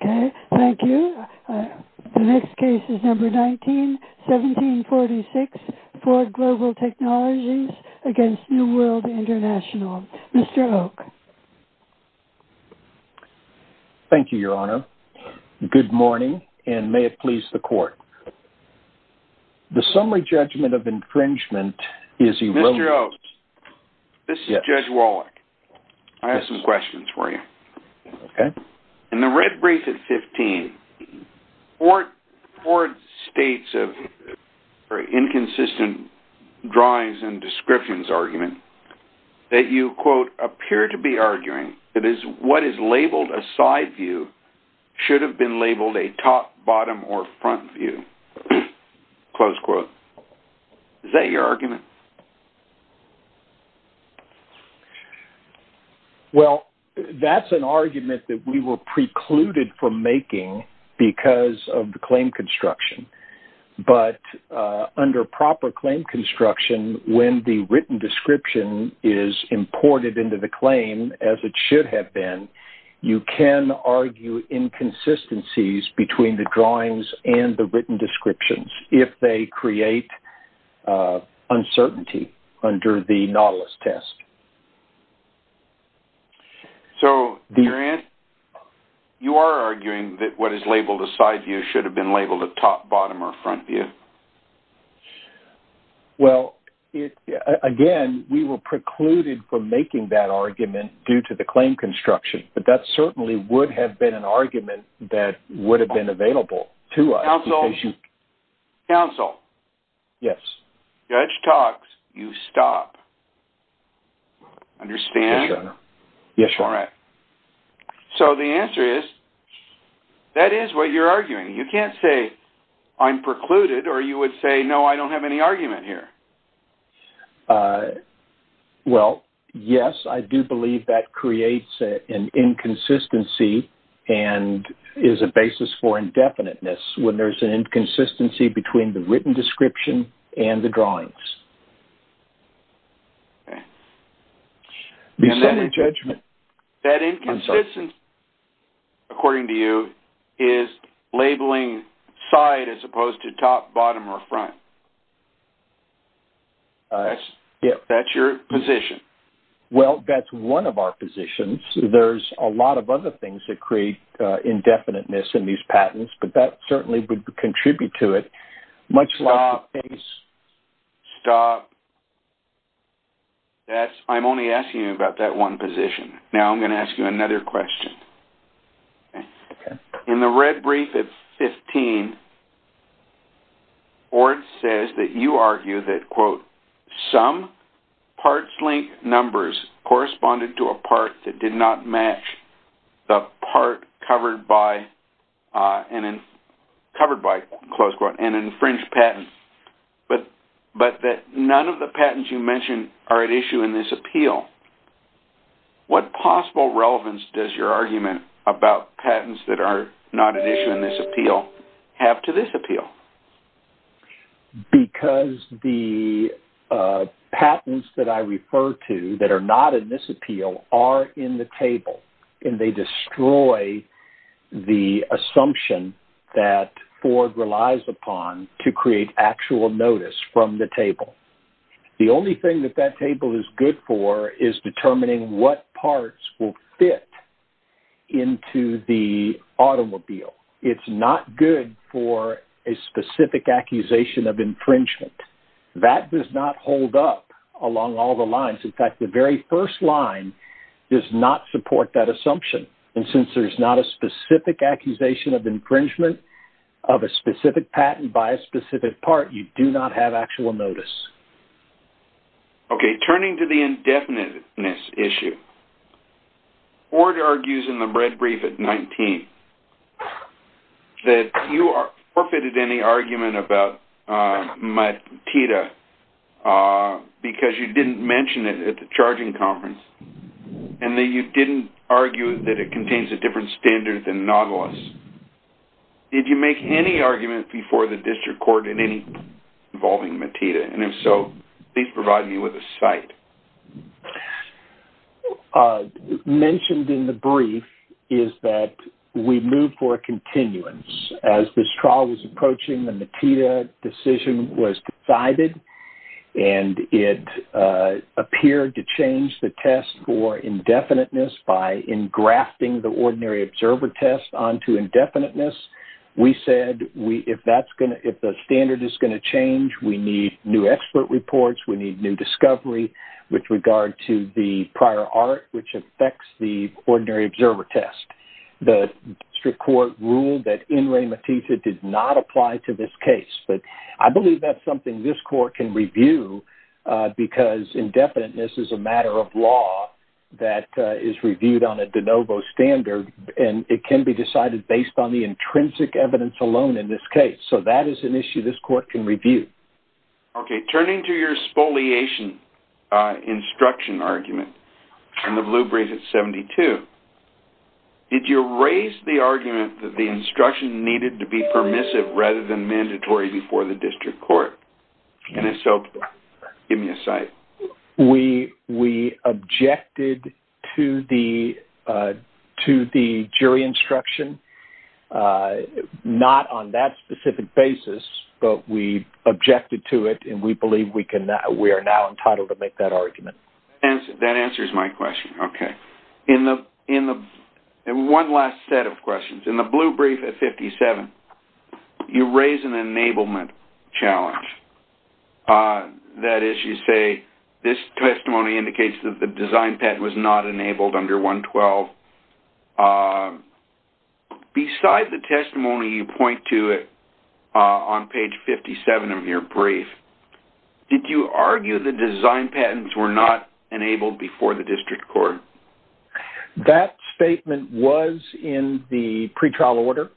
Okay, thank you. The next case is number 19-1746, Ford Global Technologies v. New World International. Mr. Oak. Thank you, your honor. Good morning, and may it please the court. The summary judgment of infringement is... Mr. Oak, this is Judge Wallach. I have some questions for you. Okay. In the red brief at 15, Ford states an inconsistent drawings and descriptions argument that you, quote, appear to be arguing that what is labeled a side view should have been labeled a top, That's an argument that we were precluded from making because of the claim construction, but under proper claim construction, when the written description is imported into the claim as it should have been, you can argue inconsistencies between the drawings and the written descriptions if they create uncertainty under the Nautilus test. Okay. So, you are arguing that what is labeled a side view should have been labeled a top, bottom, or front view? Well, again, we were precluded from making that argument due to the claim construction, but that certainly would have been an argument that would have been available to us. Counsel? Counsel? Yes. Judge talks, you stop. Understand? Yes, your honor. All right. So, the answer is, that is what you're arguing. You can't say, I'm precluded, or you would say, no, I don't have any argument here. Well, yes, I do believe that creates an inconsistency and is a basis for indefiniteness when there's an inconsistency between the written description and the drawings. Okay. That inconsistency, according to you, is labeling side as opposed to top, bottom, or front. That's your position. Well, that's one of our positions. There's a lot of other things that indefiniteness in these patents, but that certainly would contribute to it. Stop. Stop. I'm only asking you about that one position. Now, I'm going to ask you another question. Okay. In the red brief at 15, Orange says that you argue that, quote, parts link numbers corresponded to a part that did not match the part covered by, covered by, close quote, an infringed patent, but that none of the patents you mentioned are at issue in this appeal. What possible relevance does your argument about patents that are not at issue in this appeal have to this appeal? Because the patents that I refer to that are not in this appeal are in the table, and they destroy the assumption that Ford relies upon to create actual notice from the table. The only thing that that table is good for is determining what parts will fit into the automobile. It's not good for a specific accusation of infringement. That does not hold up along all the lines. In fact, the very first line does not support that assumption. And since there's not a specific accusation of infringement of a specific patent by a specific part, you do not have actual notice. Okay. Turning to the indefiniteness issue, Ford argues in the red brief at 19 that you forfeited any argument about Matita because you didn't mention it at the charging conference, and that you didn't argue that it contains a different standard than Nautilus. Did you make any argument before the district court in any involving Matita? And if so, please provide me with a cite. Mentioned in the brief is that we moved for a continuance. As this trial was approaching, the Matita decision was decided, and it appeared to change the test for indefiniteness by engrafting the ordinary observer test onto indefiniteness. We said if the standard is going to change, we need new expert reports. We need new discovery with regard to the prior art which affects the ordinary observer test. The district court ruled that in re Matita did not apply to this case. But I believe that's something this court can review because indefiniteness is a matter of law that is reviewed on a de novo standard, and it can be decided based on the intrinsic evidence alone in this case. So that is an issue this court can review. Okay, turning to your spoliation instruction argument in the blue brief at 72, did you raise the argument that the instruction needed to be permissive rather than mandatory before the district court? And if so, give me a We objected to the jury instruction, not on that specific basis, but we objected to it, and we believe we are now entitled to make that argument. That answers my question. Okay. And one last set of questions. In the blue brief at 57, you raise an enablement challenge. That is, you say, this testimony indicates that the design patent was not enabled under 112. Beside the testimony you point to it on page 57 of your brief, did you argue the design patents were not enabled before the district court? That statement was in the pretrial order,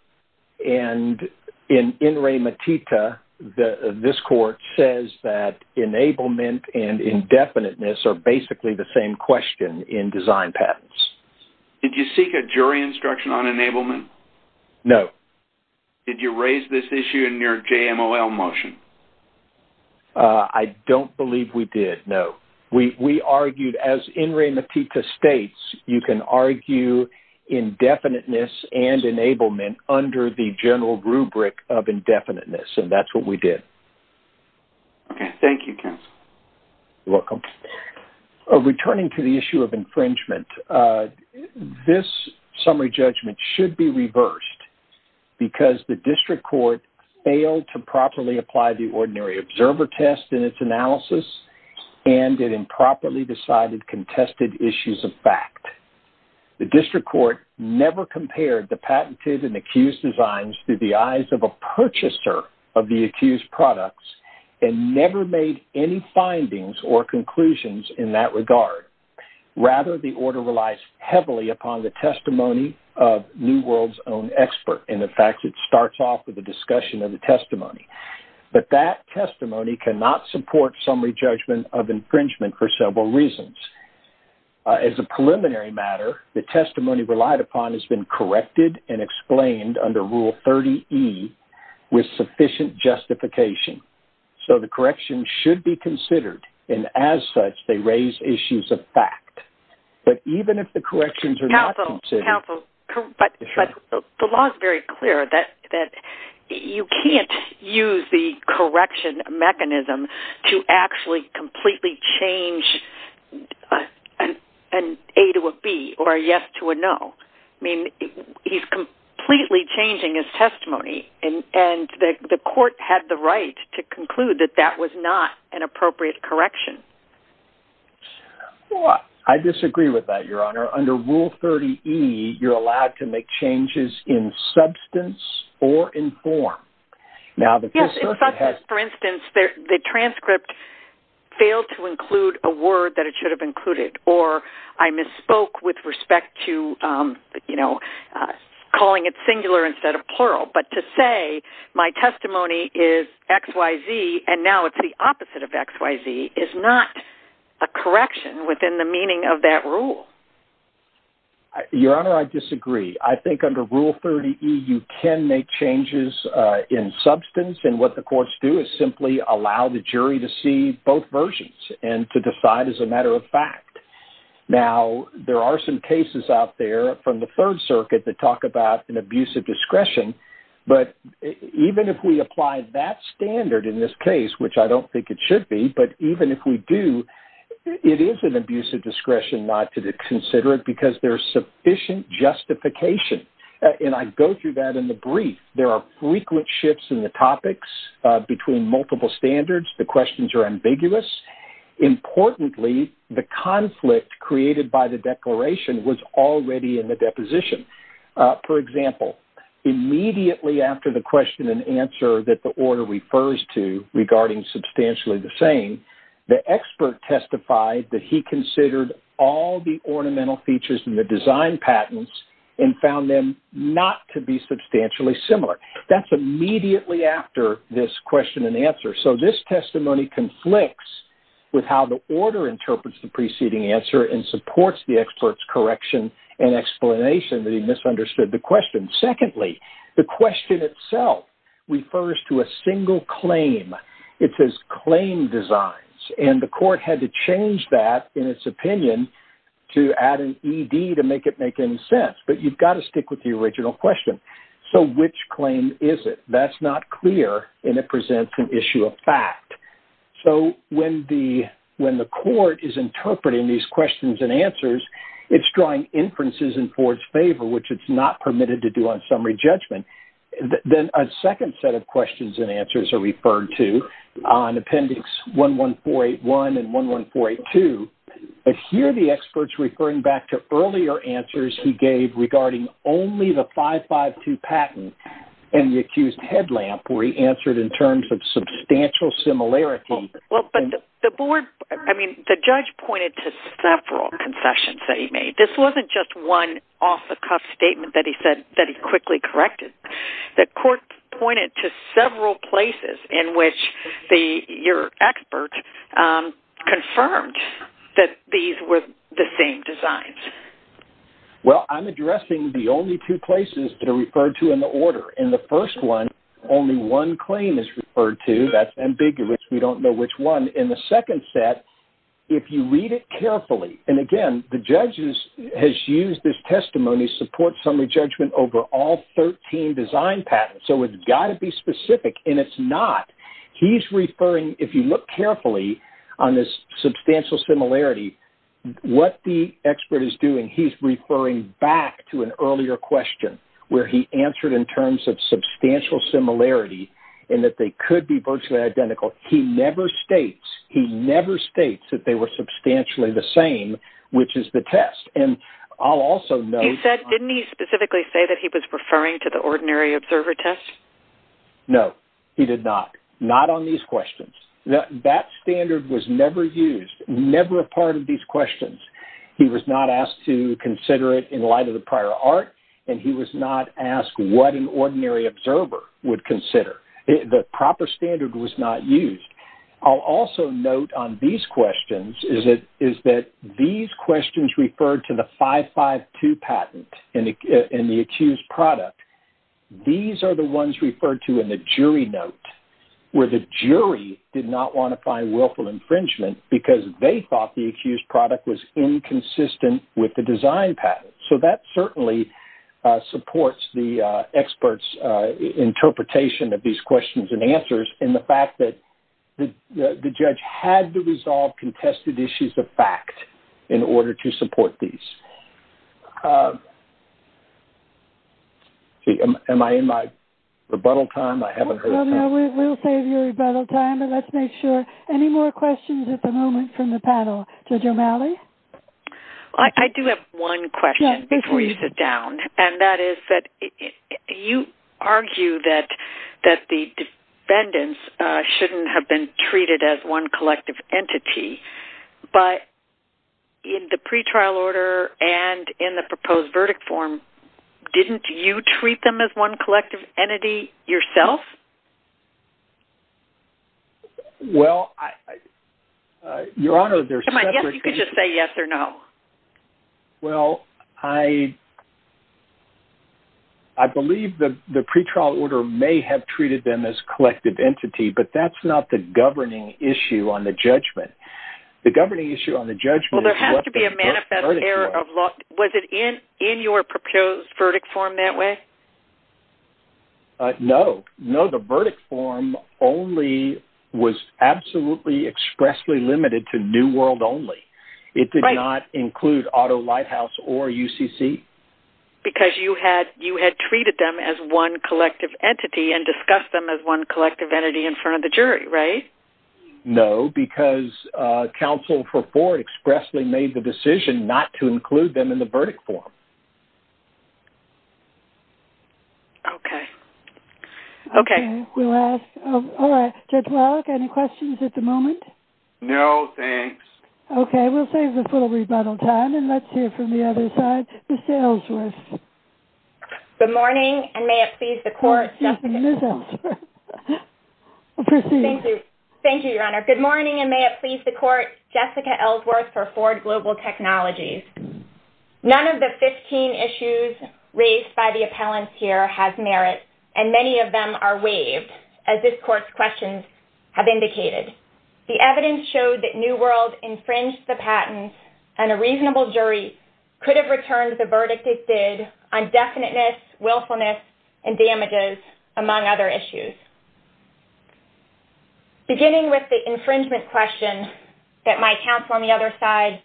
and in En Re Matita, this court says that enablement and indefiniteness are basically the same question in design patents. Did you seek a jury instruction on enablement? No. Did you raise this issue in your JMOL motion? I don't believe we did, no. We argued, as En Re Matita states, you can argue indefiniteness and enablement under the general rubric of indefiniteness, and that's what we did. Okay. Thank you, counsel. You're welcome. Returning to the issue of infringement, this summary judgment should be reversed, because the district court failed to properly apply the ordinary observer test in its analysis, and it improperly decided contested issues of fact. The district court never compared the patented and accused designs to the eyes of a purchaser of the accused products, and never made any findings or conclusions in that regard. Rather, the order relies heavily upon the testimony of New World's own expert, and in fact, it starts off with a discussion of the testimony. But that testimony cannot support summary judgment of infringement for several reasons. As a preliminary matter, the testimony relied upon has been corrected and explained under Rule 30E with sufficient justification. So, the correction should be considered, and as such, they raise issues of fact. But even if the corrections are not considered- I disagree with that, Your Honor. Under Rule 30E, you're allowed to make changes in substance or in form. For instance, the transcript failed to include a word that it should have included, or I misspoke with respect to, you know, calling it singular instead of plural. But to say, my testimony is XYZ, and now it's the opposite of XYZ, is not a correction within the meaning of that rule. Your Honor, I disagree. I think under Rule 30E, you can make changes in substance, and what the courts do is simply allow the jury to see both versions, and to decide as a matter of fact. Now, there are some cases out there from the Third Circuit that talk about an abuse of discretion, but even if we apply that standard in this case, which I don't think it should be, but even if we do, it is an abuse of discretion not to consider it because there's sufficient justification. And I go through that in the brief. There are frequent shifts in the topics between multiple standards. The questions are ambiguous. Importantly, the conflict created by the declaration was already in the deposition. For example, immediately after the question and the expert testified that he considered all the ornamental features in the design patents and found them not to be substantially similar. That's immediately after this question and answer. So this testimony conflicts with how the order interprets the preceding answer and supports the expert's correction and explanation that he misunderstood the question. Secondly, the question itself refers to a single claim. It says claim designs, and the court had to change that in its opinion to add an ED to make it make any sense, but you've got to stick with the original question. So which claim is it? That's not clear, and it presents an issue of fact. So when the court is interpreting these questions and answers, it's drawing inferences in Ford's judgment. Then a second set of questions and answers are referred to on Appendix 11481 and 11482, but here the expert's referring back to earlier answers he gave regarding only the 552 patent and the accused headlamp where he answered in terms of substantial similarity. I mean, the judge pointed to several concessions that he made. This wasn't just one off-the-cuff statement that he quickly corrected. The court pointed to several places in which your expert confirmed that these were the same designs. Well, I'm addressing the only two places that are referred to in the order. In the first one, only one claim is referred to. That's ambiguous. We don't know which one. In the second set, if you read it carefully, and again, the judge has used this testimony support summary judgment over all 13 design patents, so it's got to be specific, and it's not. He's referring, if you look carefully on this substantial similarity, what the expert is doing, he's referring back to an earlier question where he answered in terms of substantial similarity and that they could be virtually identical. He never states that they were substantially the same, which is the test. Didn't he specifically say that he was referring to the ordinary observer test? No, he did not. Not on these questions. That standard was never used, never a part of these questions. He was not asked to consider it in light of the prior art, and he was not asked what an ordinary observer would consider. The proper standard was not used. I'll also note on these questions is that these questions referred to the 552 patent and the accused product, these are the ones referred to in the jury note where the jury did not want to find willful infringement because they thought the accused product was inconsistent with the design patent. That certainly supports the expert's interpretation of these questions and answers in the fact that the judge had to resolve contested issues of fact in order to support these. Am I in my rebuttal time? I haven't heard. No, we'll save your rebuttal time, but let's make sure. Any more questions at the moment from the panel? Judge O'Malley? I do have one question before you sit down, and that is that you argue that the defendants shouldn't have been treated as one collective entity, but in the pretrial order and in the proposed verdict form, didn't you treat them as one collective entity yourself? Well, Your Honor, there's... Come on, yes, you could just say yes or no. Well, I believe that the pretrial order may have treated them as collective entity, but that's not the governing issue on the judgment. The governing issue on the judgment... Well, there has to be a manifest error of law. Was it in your proposed verdict form that way? No. No, the verdict form only was absolutely expressly limited to New World only. Right. It did not include Auto Lighthouse or UCC. Because you had treated them as one collective entity and discussed them as one collective entity in front of the jury, right? No, because counsel for Ford expressly made the decision not to include them in the verdict form. Okay. Okay. We'll ask... All right. Judge Wallach, any questions at the moment? No, thanks. Okay. We'll save this little rebuttal time, and let's hear from the other side. Ms. Ellsworth. Good morning, and may it please the court... Excuse me, Ms. Ellsworth. Proceed. Thank you. Thank you, Your Honor. Good morning, and may it please the court, the evidence here has merit, and many of them are waived, as this court's questions have indicated. The evidence showed that New World infringed the patent, and a reasonable jury could have returned the verdict it did on definiteness, willfulness, and damages, among other issues. Beginning with the infringement question that my counsel on the other side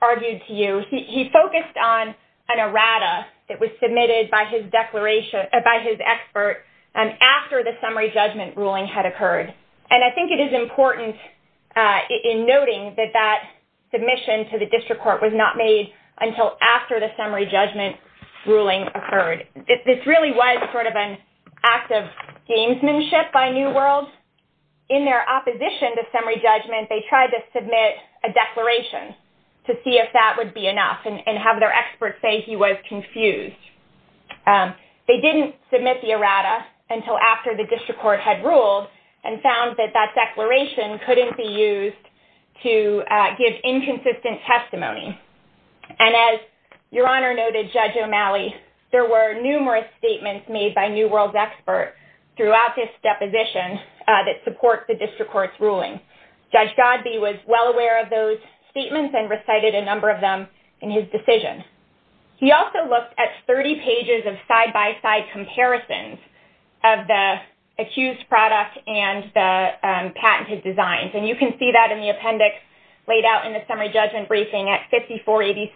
argued to you, he focused on an errata that was submitted by his expert after the summary judgment ruling had occurred. And I think it is important in noting that that submission to the district court was not made until after the summary judgment ruling occurred. This really was sort of an act of gamesmanship by New World. In their opposition to summary judgment, they tried to submit a declaration to see if that would be enough, and have their expert say he was confused. They didn't submit the errata until after the district court had ruled, and found that that declaration couldn't be used to give inconsistent testimony. And as Your Honor noted, Judge O'Malley, there were numerous statements made by New World's expert throughout this deposition that support the district court's in his decision. He also looked at 30 pages of side-by-side comparisons of the accused product and the patented designs. And you can see that in the appendix laid out in the summary judgment briefing at 5486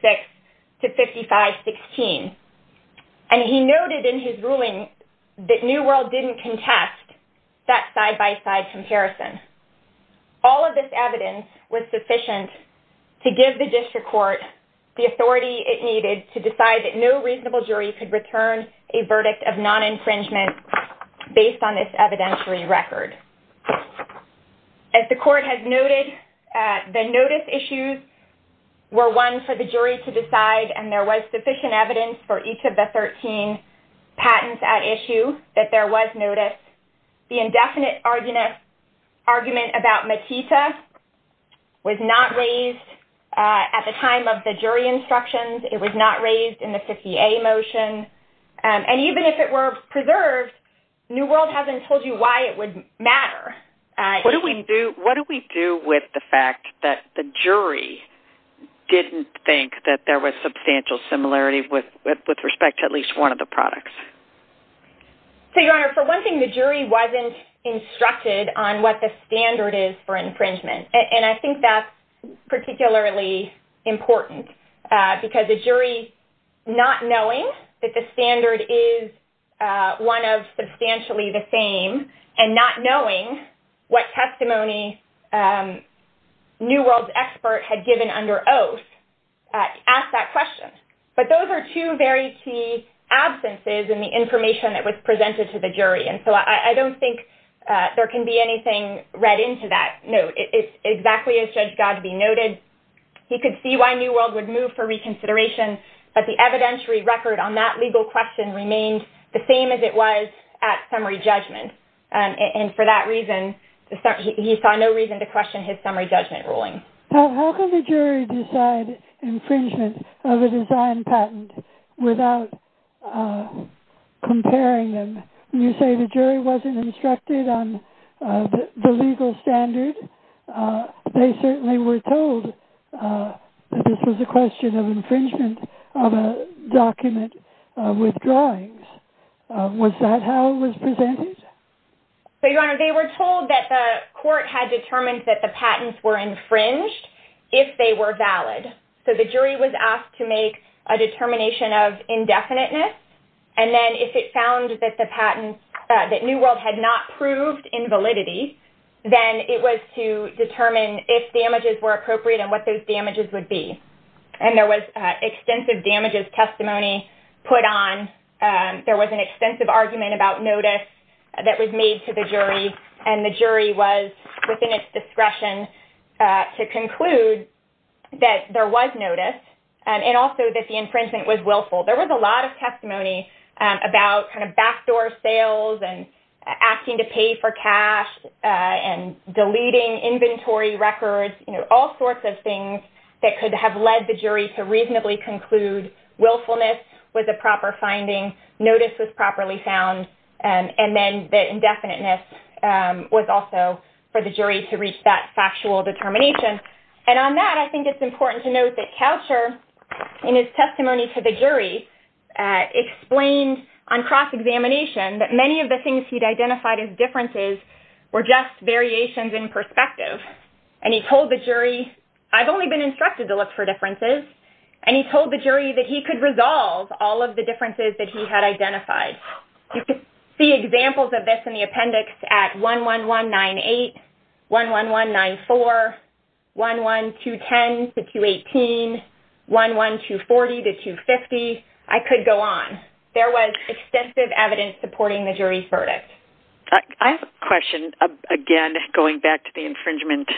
to 5516. And he noted in his ruling that New World didn't contest that side-by-side comparison. All of this evidence was sufficient to give the district court the authority it needed to decide that no reasonable jury could return a verdict of non-infringement based on this evidentiary record. As the court has noted, the notice issues were one for the jury to decide, and there was sufficient evidence for each of the 13 patents at issue that there was notice. The indefinite argument about Makita was not raised at the time of the jury instructions. It was not raised in the 50A motion. And even if it were preserved, New World hasn't told you why it would matter. What do we do with the fact that the jury didn't think that there was substantial similarity with respect to at least one of the products? So, Your Honor, for one thing, the jury wasn't instructed on what the standard is for infringement. And I think that's particularly important because the jury, not knowing that the standard is one of substantially the same and not knowing what the standard is, but those are two very key absences in the information that was presented to the jury. And so I don't think there can be anything read into that note. It's exactly as Judge Godbee noted. He could see why New World would move for reconsideration, but the evidentiary record on that legal question remained the same as it was at summary judgment. And for that reason, he saw no reason to question his summary judgment ruling. How can the jury decide infringement of a design patent without comparing them? When you say the jury wasn't instructed on the legal standard, they certainly were told that this was a question of infringement of a document with drawings. Was that how it was presented? So, Your Honor, they were told that the court had determined that the patents were infringed if they were valid. So, the jury was asked to make a determination of indefiniteness. And then if it found that the patent that New World had not proved in validity, then it was to determine if damages were appropriate and what those damages would be. And there was extensive damages testimony put on. There was an extensive argument about notice that was made to the jury. And the jury was within its discretion to conclude that there was notice and also that the infringement was willful. There was a lot of testimony about kind of backdoor sales and asking to pay for cash and deleting inventory records, you know, all sorts of things that could have led the jury to reasonably conclude willfulness was a proper finding, notice was properly found, and then the indefiniteness was also for the jury to reach that factual determination. And on that, I think it's important to note that Coucher, in his testimony to the jury, explained on cross-examination that many of the things he'd identified as differences were just variations in perspective. And he told the jury, I've only been instructed to look for differences, and he told the jury that he could resolve all of the differences that he had identified. You can see examples of this in the appendix at 11198, 11194, 11210 to 218, 11240 to 250. I could go on. There was extensive evidence supporting the jury's verdict. I have a question, again, going back to infringement.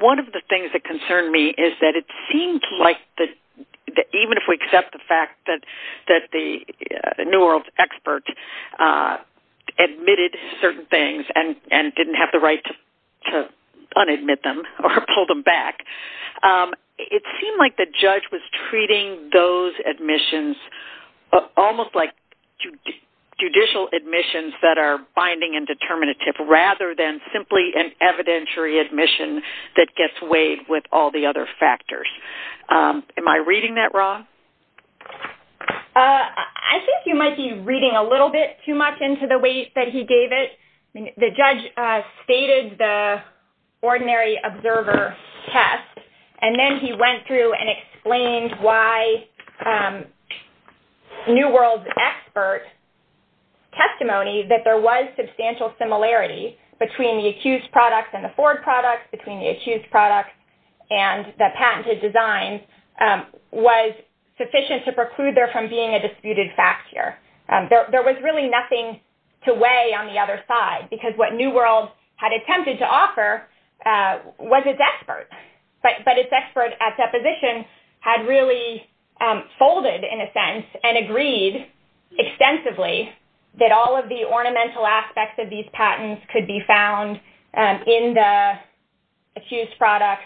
One of the things that concerned me is that it seemed like, even if we accept the fact that the New World expert admitted certain things and didn't have the right to unadmit them or pull them back, it seemed like the judge was treating those admissions almost like judicial admissions that are binding and determinative, rather than simply an evidentiary admission that gets weighed with all the other factors. Am I reading that wrong? I think you might be reading a little bit too much into the weight that he gave it. The judge stated the ordinary observer test, and then he went through and explained why New World's expert testimony that there was substantial similarity between the accused products and the forward products, between the accused products and the patented designs, was sufficient to preclude there from being a disputed fact here. There was really nothing to weigh on the other side, because what New World had attempted to offer was its expert, but its expert at deposition had really folded, in a sense, and agreed extensively that all of the ornamental aspects of these patents could be found in the accused products.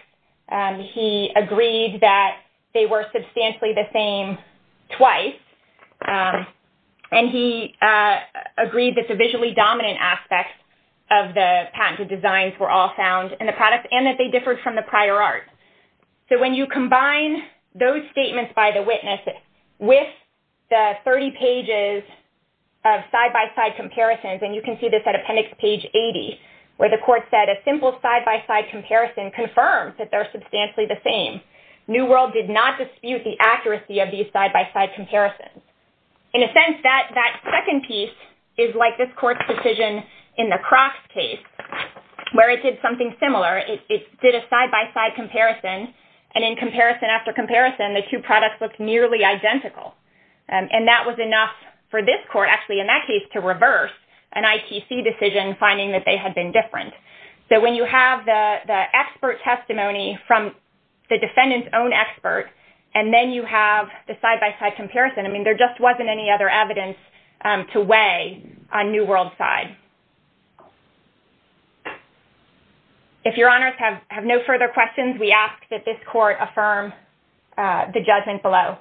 He agreed that they were substantially the same twice, and he agreed that the visually dominant aspects of the patented designs were all found in the art. When you combine those statements by the witness with the 30 pages of side-by-side comparisons, and you can see this at appendix page 80, where the court said a simple side-by-side comparison confirms that they're substantially the same. New World did not dispute the accuracy of these side-by-side comparisons. In a sense, that second piece is like this court's decision in the Crocks case, where it did something similar. It did a side-by-side comparison, and in comparison after comparison, the two products looked nearly identical. And that was enough for this court, actually, in that case, to reverse an ITC decision, finding that they had been different. So when you have the expert testimony from the defendant's own expert, and then you have the side-by-side comparison, I mean, there just wasn't any other side. If your honors have no further questions, we ask that this court affirm the judgment below.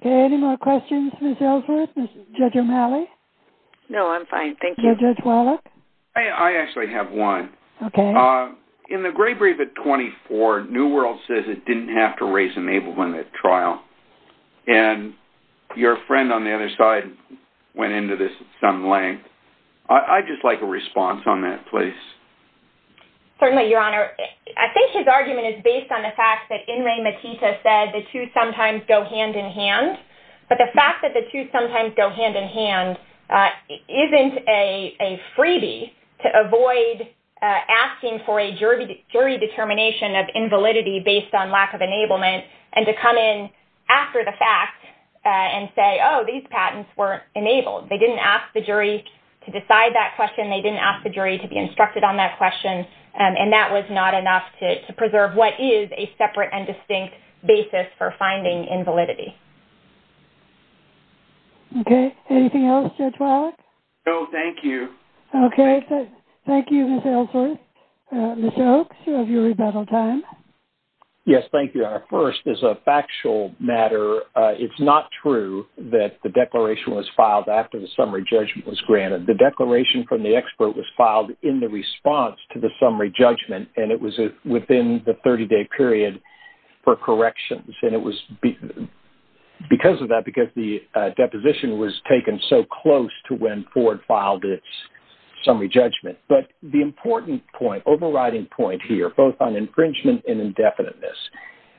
Okay, any more questions, Ms. Ellsworth? Judge O'Malley? No, I'm fine, thank you. Judge Wallach? I actually have one. Okay. In the gray brief at 24, New World says it didn't have to raise enablement at trial, and your friend on the other side went into this at some length. I'd just like a response on that, please. Certainly, your honor. I think his argument is based on the fact that In re Matita said the two sometimes go hand-in-hand, but the fact that the two sometimes go hand-in-hand isn't a freebie to avoid asking for a jury determination of invalidity based on lack of enablement, and to come in after the fact and say, oh, these patents weren't enabled. They didn't ask the jury to decide that question. They didn't ask the jury to be instructed on that question, and that was not enough to preserve what is a separate and distinct basis for finding invalidity. Okay, anything else, Judge Wallach? No, thank you. Okay, thank you, Ms. Ellsworth. Mr. Oakes, you have your rebuttal time. Yes, thank you, your honor. First, as a factual matter, it's not true that the declaration was filed after the summary judgment was granted. The declaration from the expert was filed in the response to the summary judgment, and it was within the 30-day period for corrections, and it was because of that, because the deposition was taken so close to when Ford filed its overriding point here, both on infringement and indefiniteness.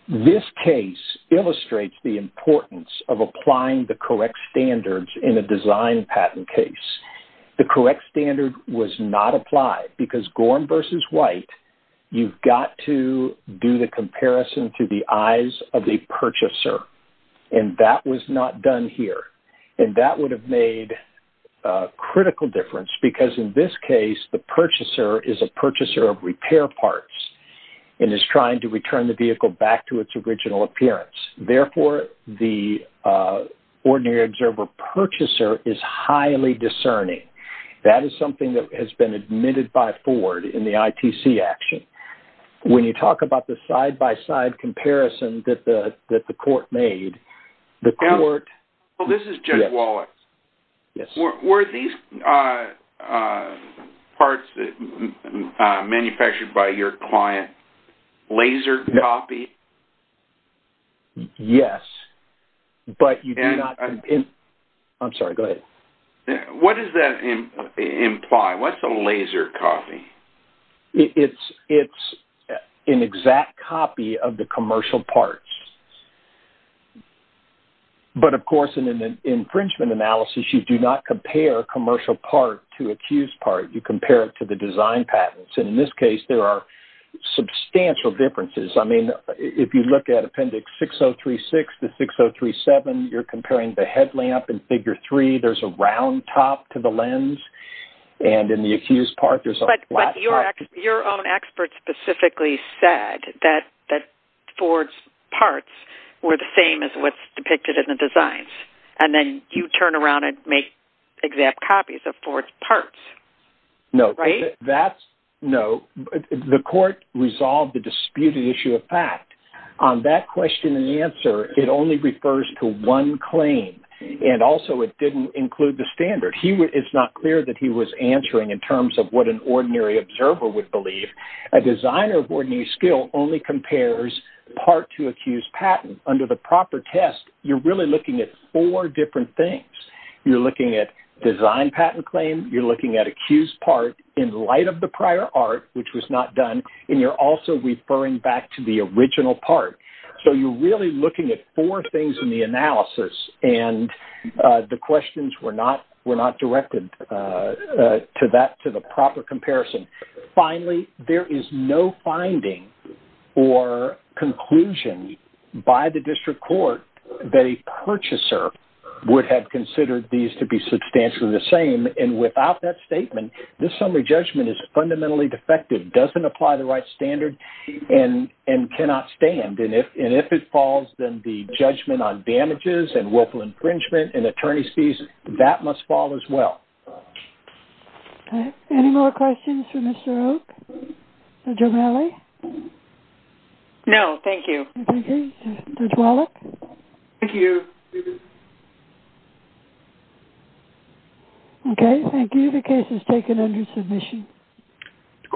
This case illustrates the importance of applying the correct standards in a design patent case. The correct standard was not applied because Gorham versus White, you've got to do the comparison to the eyes of the purchaser, and that was not done here, and that would have made a critical difference because, in this case, the purchaser is a purchaser of repair parts and is trying to return the vehicle back to its original appearance. Therefore, the ordinary observer purchaser is highly discerning. That is something that has been admitted by Ford in the ITC action. When you talk about the side-by-side comparison that the court made, the court... ...parts manufactured by your client, laser copy? Yes, but you do not... I'm sorry, go ahead. What does that imply? What's a laser copy? It's an exact copy of the commercial parts, but, of course, in an infringement analysis, you do not compare commercial part to accused part. You compare it to the design patents, and, in this case, there are substantial differences. I mean, if you look at Appendix 6036 to 6037, you're comparing the headlamp and Figure 3. There's a round top to the lens, and in the accused part, there's a flat top. Your own expert specifically said that Ford's parts were the same as what's depicted in the designs, and then you turn around and make exact copies of Ford's parts. No. Right? That's... No. The court resolved the disputed issue of fact. On that question and answer, it only refers to one claim, and also it didn't include the standard. It's not clear that he was would believe. A designer of ordinary skill only compares part to accused patent. Under the proper test, you're really looking at four different things. You're looking at design patent claim. You're looking at accused part in light of the prior art, which was not done, and you're also referring back to the original part. So, you're really looking at four things in the analysis, and the questions were not directed to the proper comparison. Finally, there is no finding or conclusion by the district court that a purchaser would have considered these to be substantially the same, and without that statement, this summary judgment is fundamentally defective, doesn't apply the right standard, and cannot stand. And if it falls, then the judgment on damages, and willful infringement, and attorney's fees, that must fall as well. Okay. Any more questions for Mr. Oak? Judge O'Malley? No. Thank you. Judge Wallach? Thank you. Okay. Thank you. The case is taken under submission.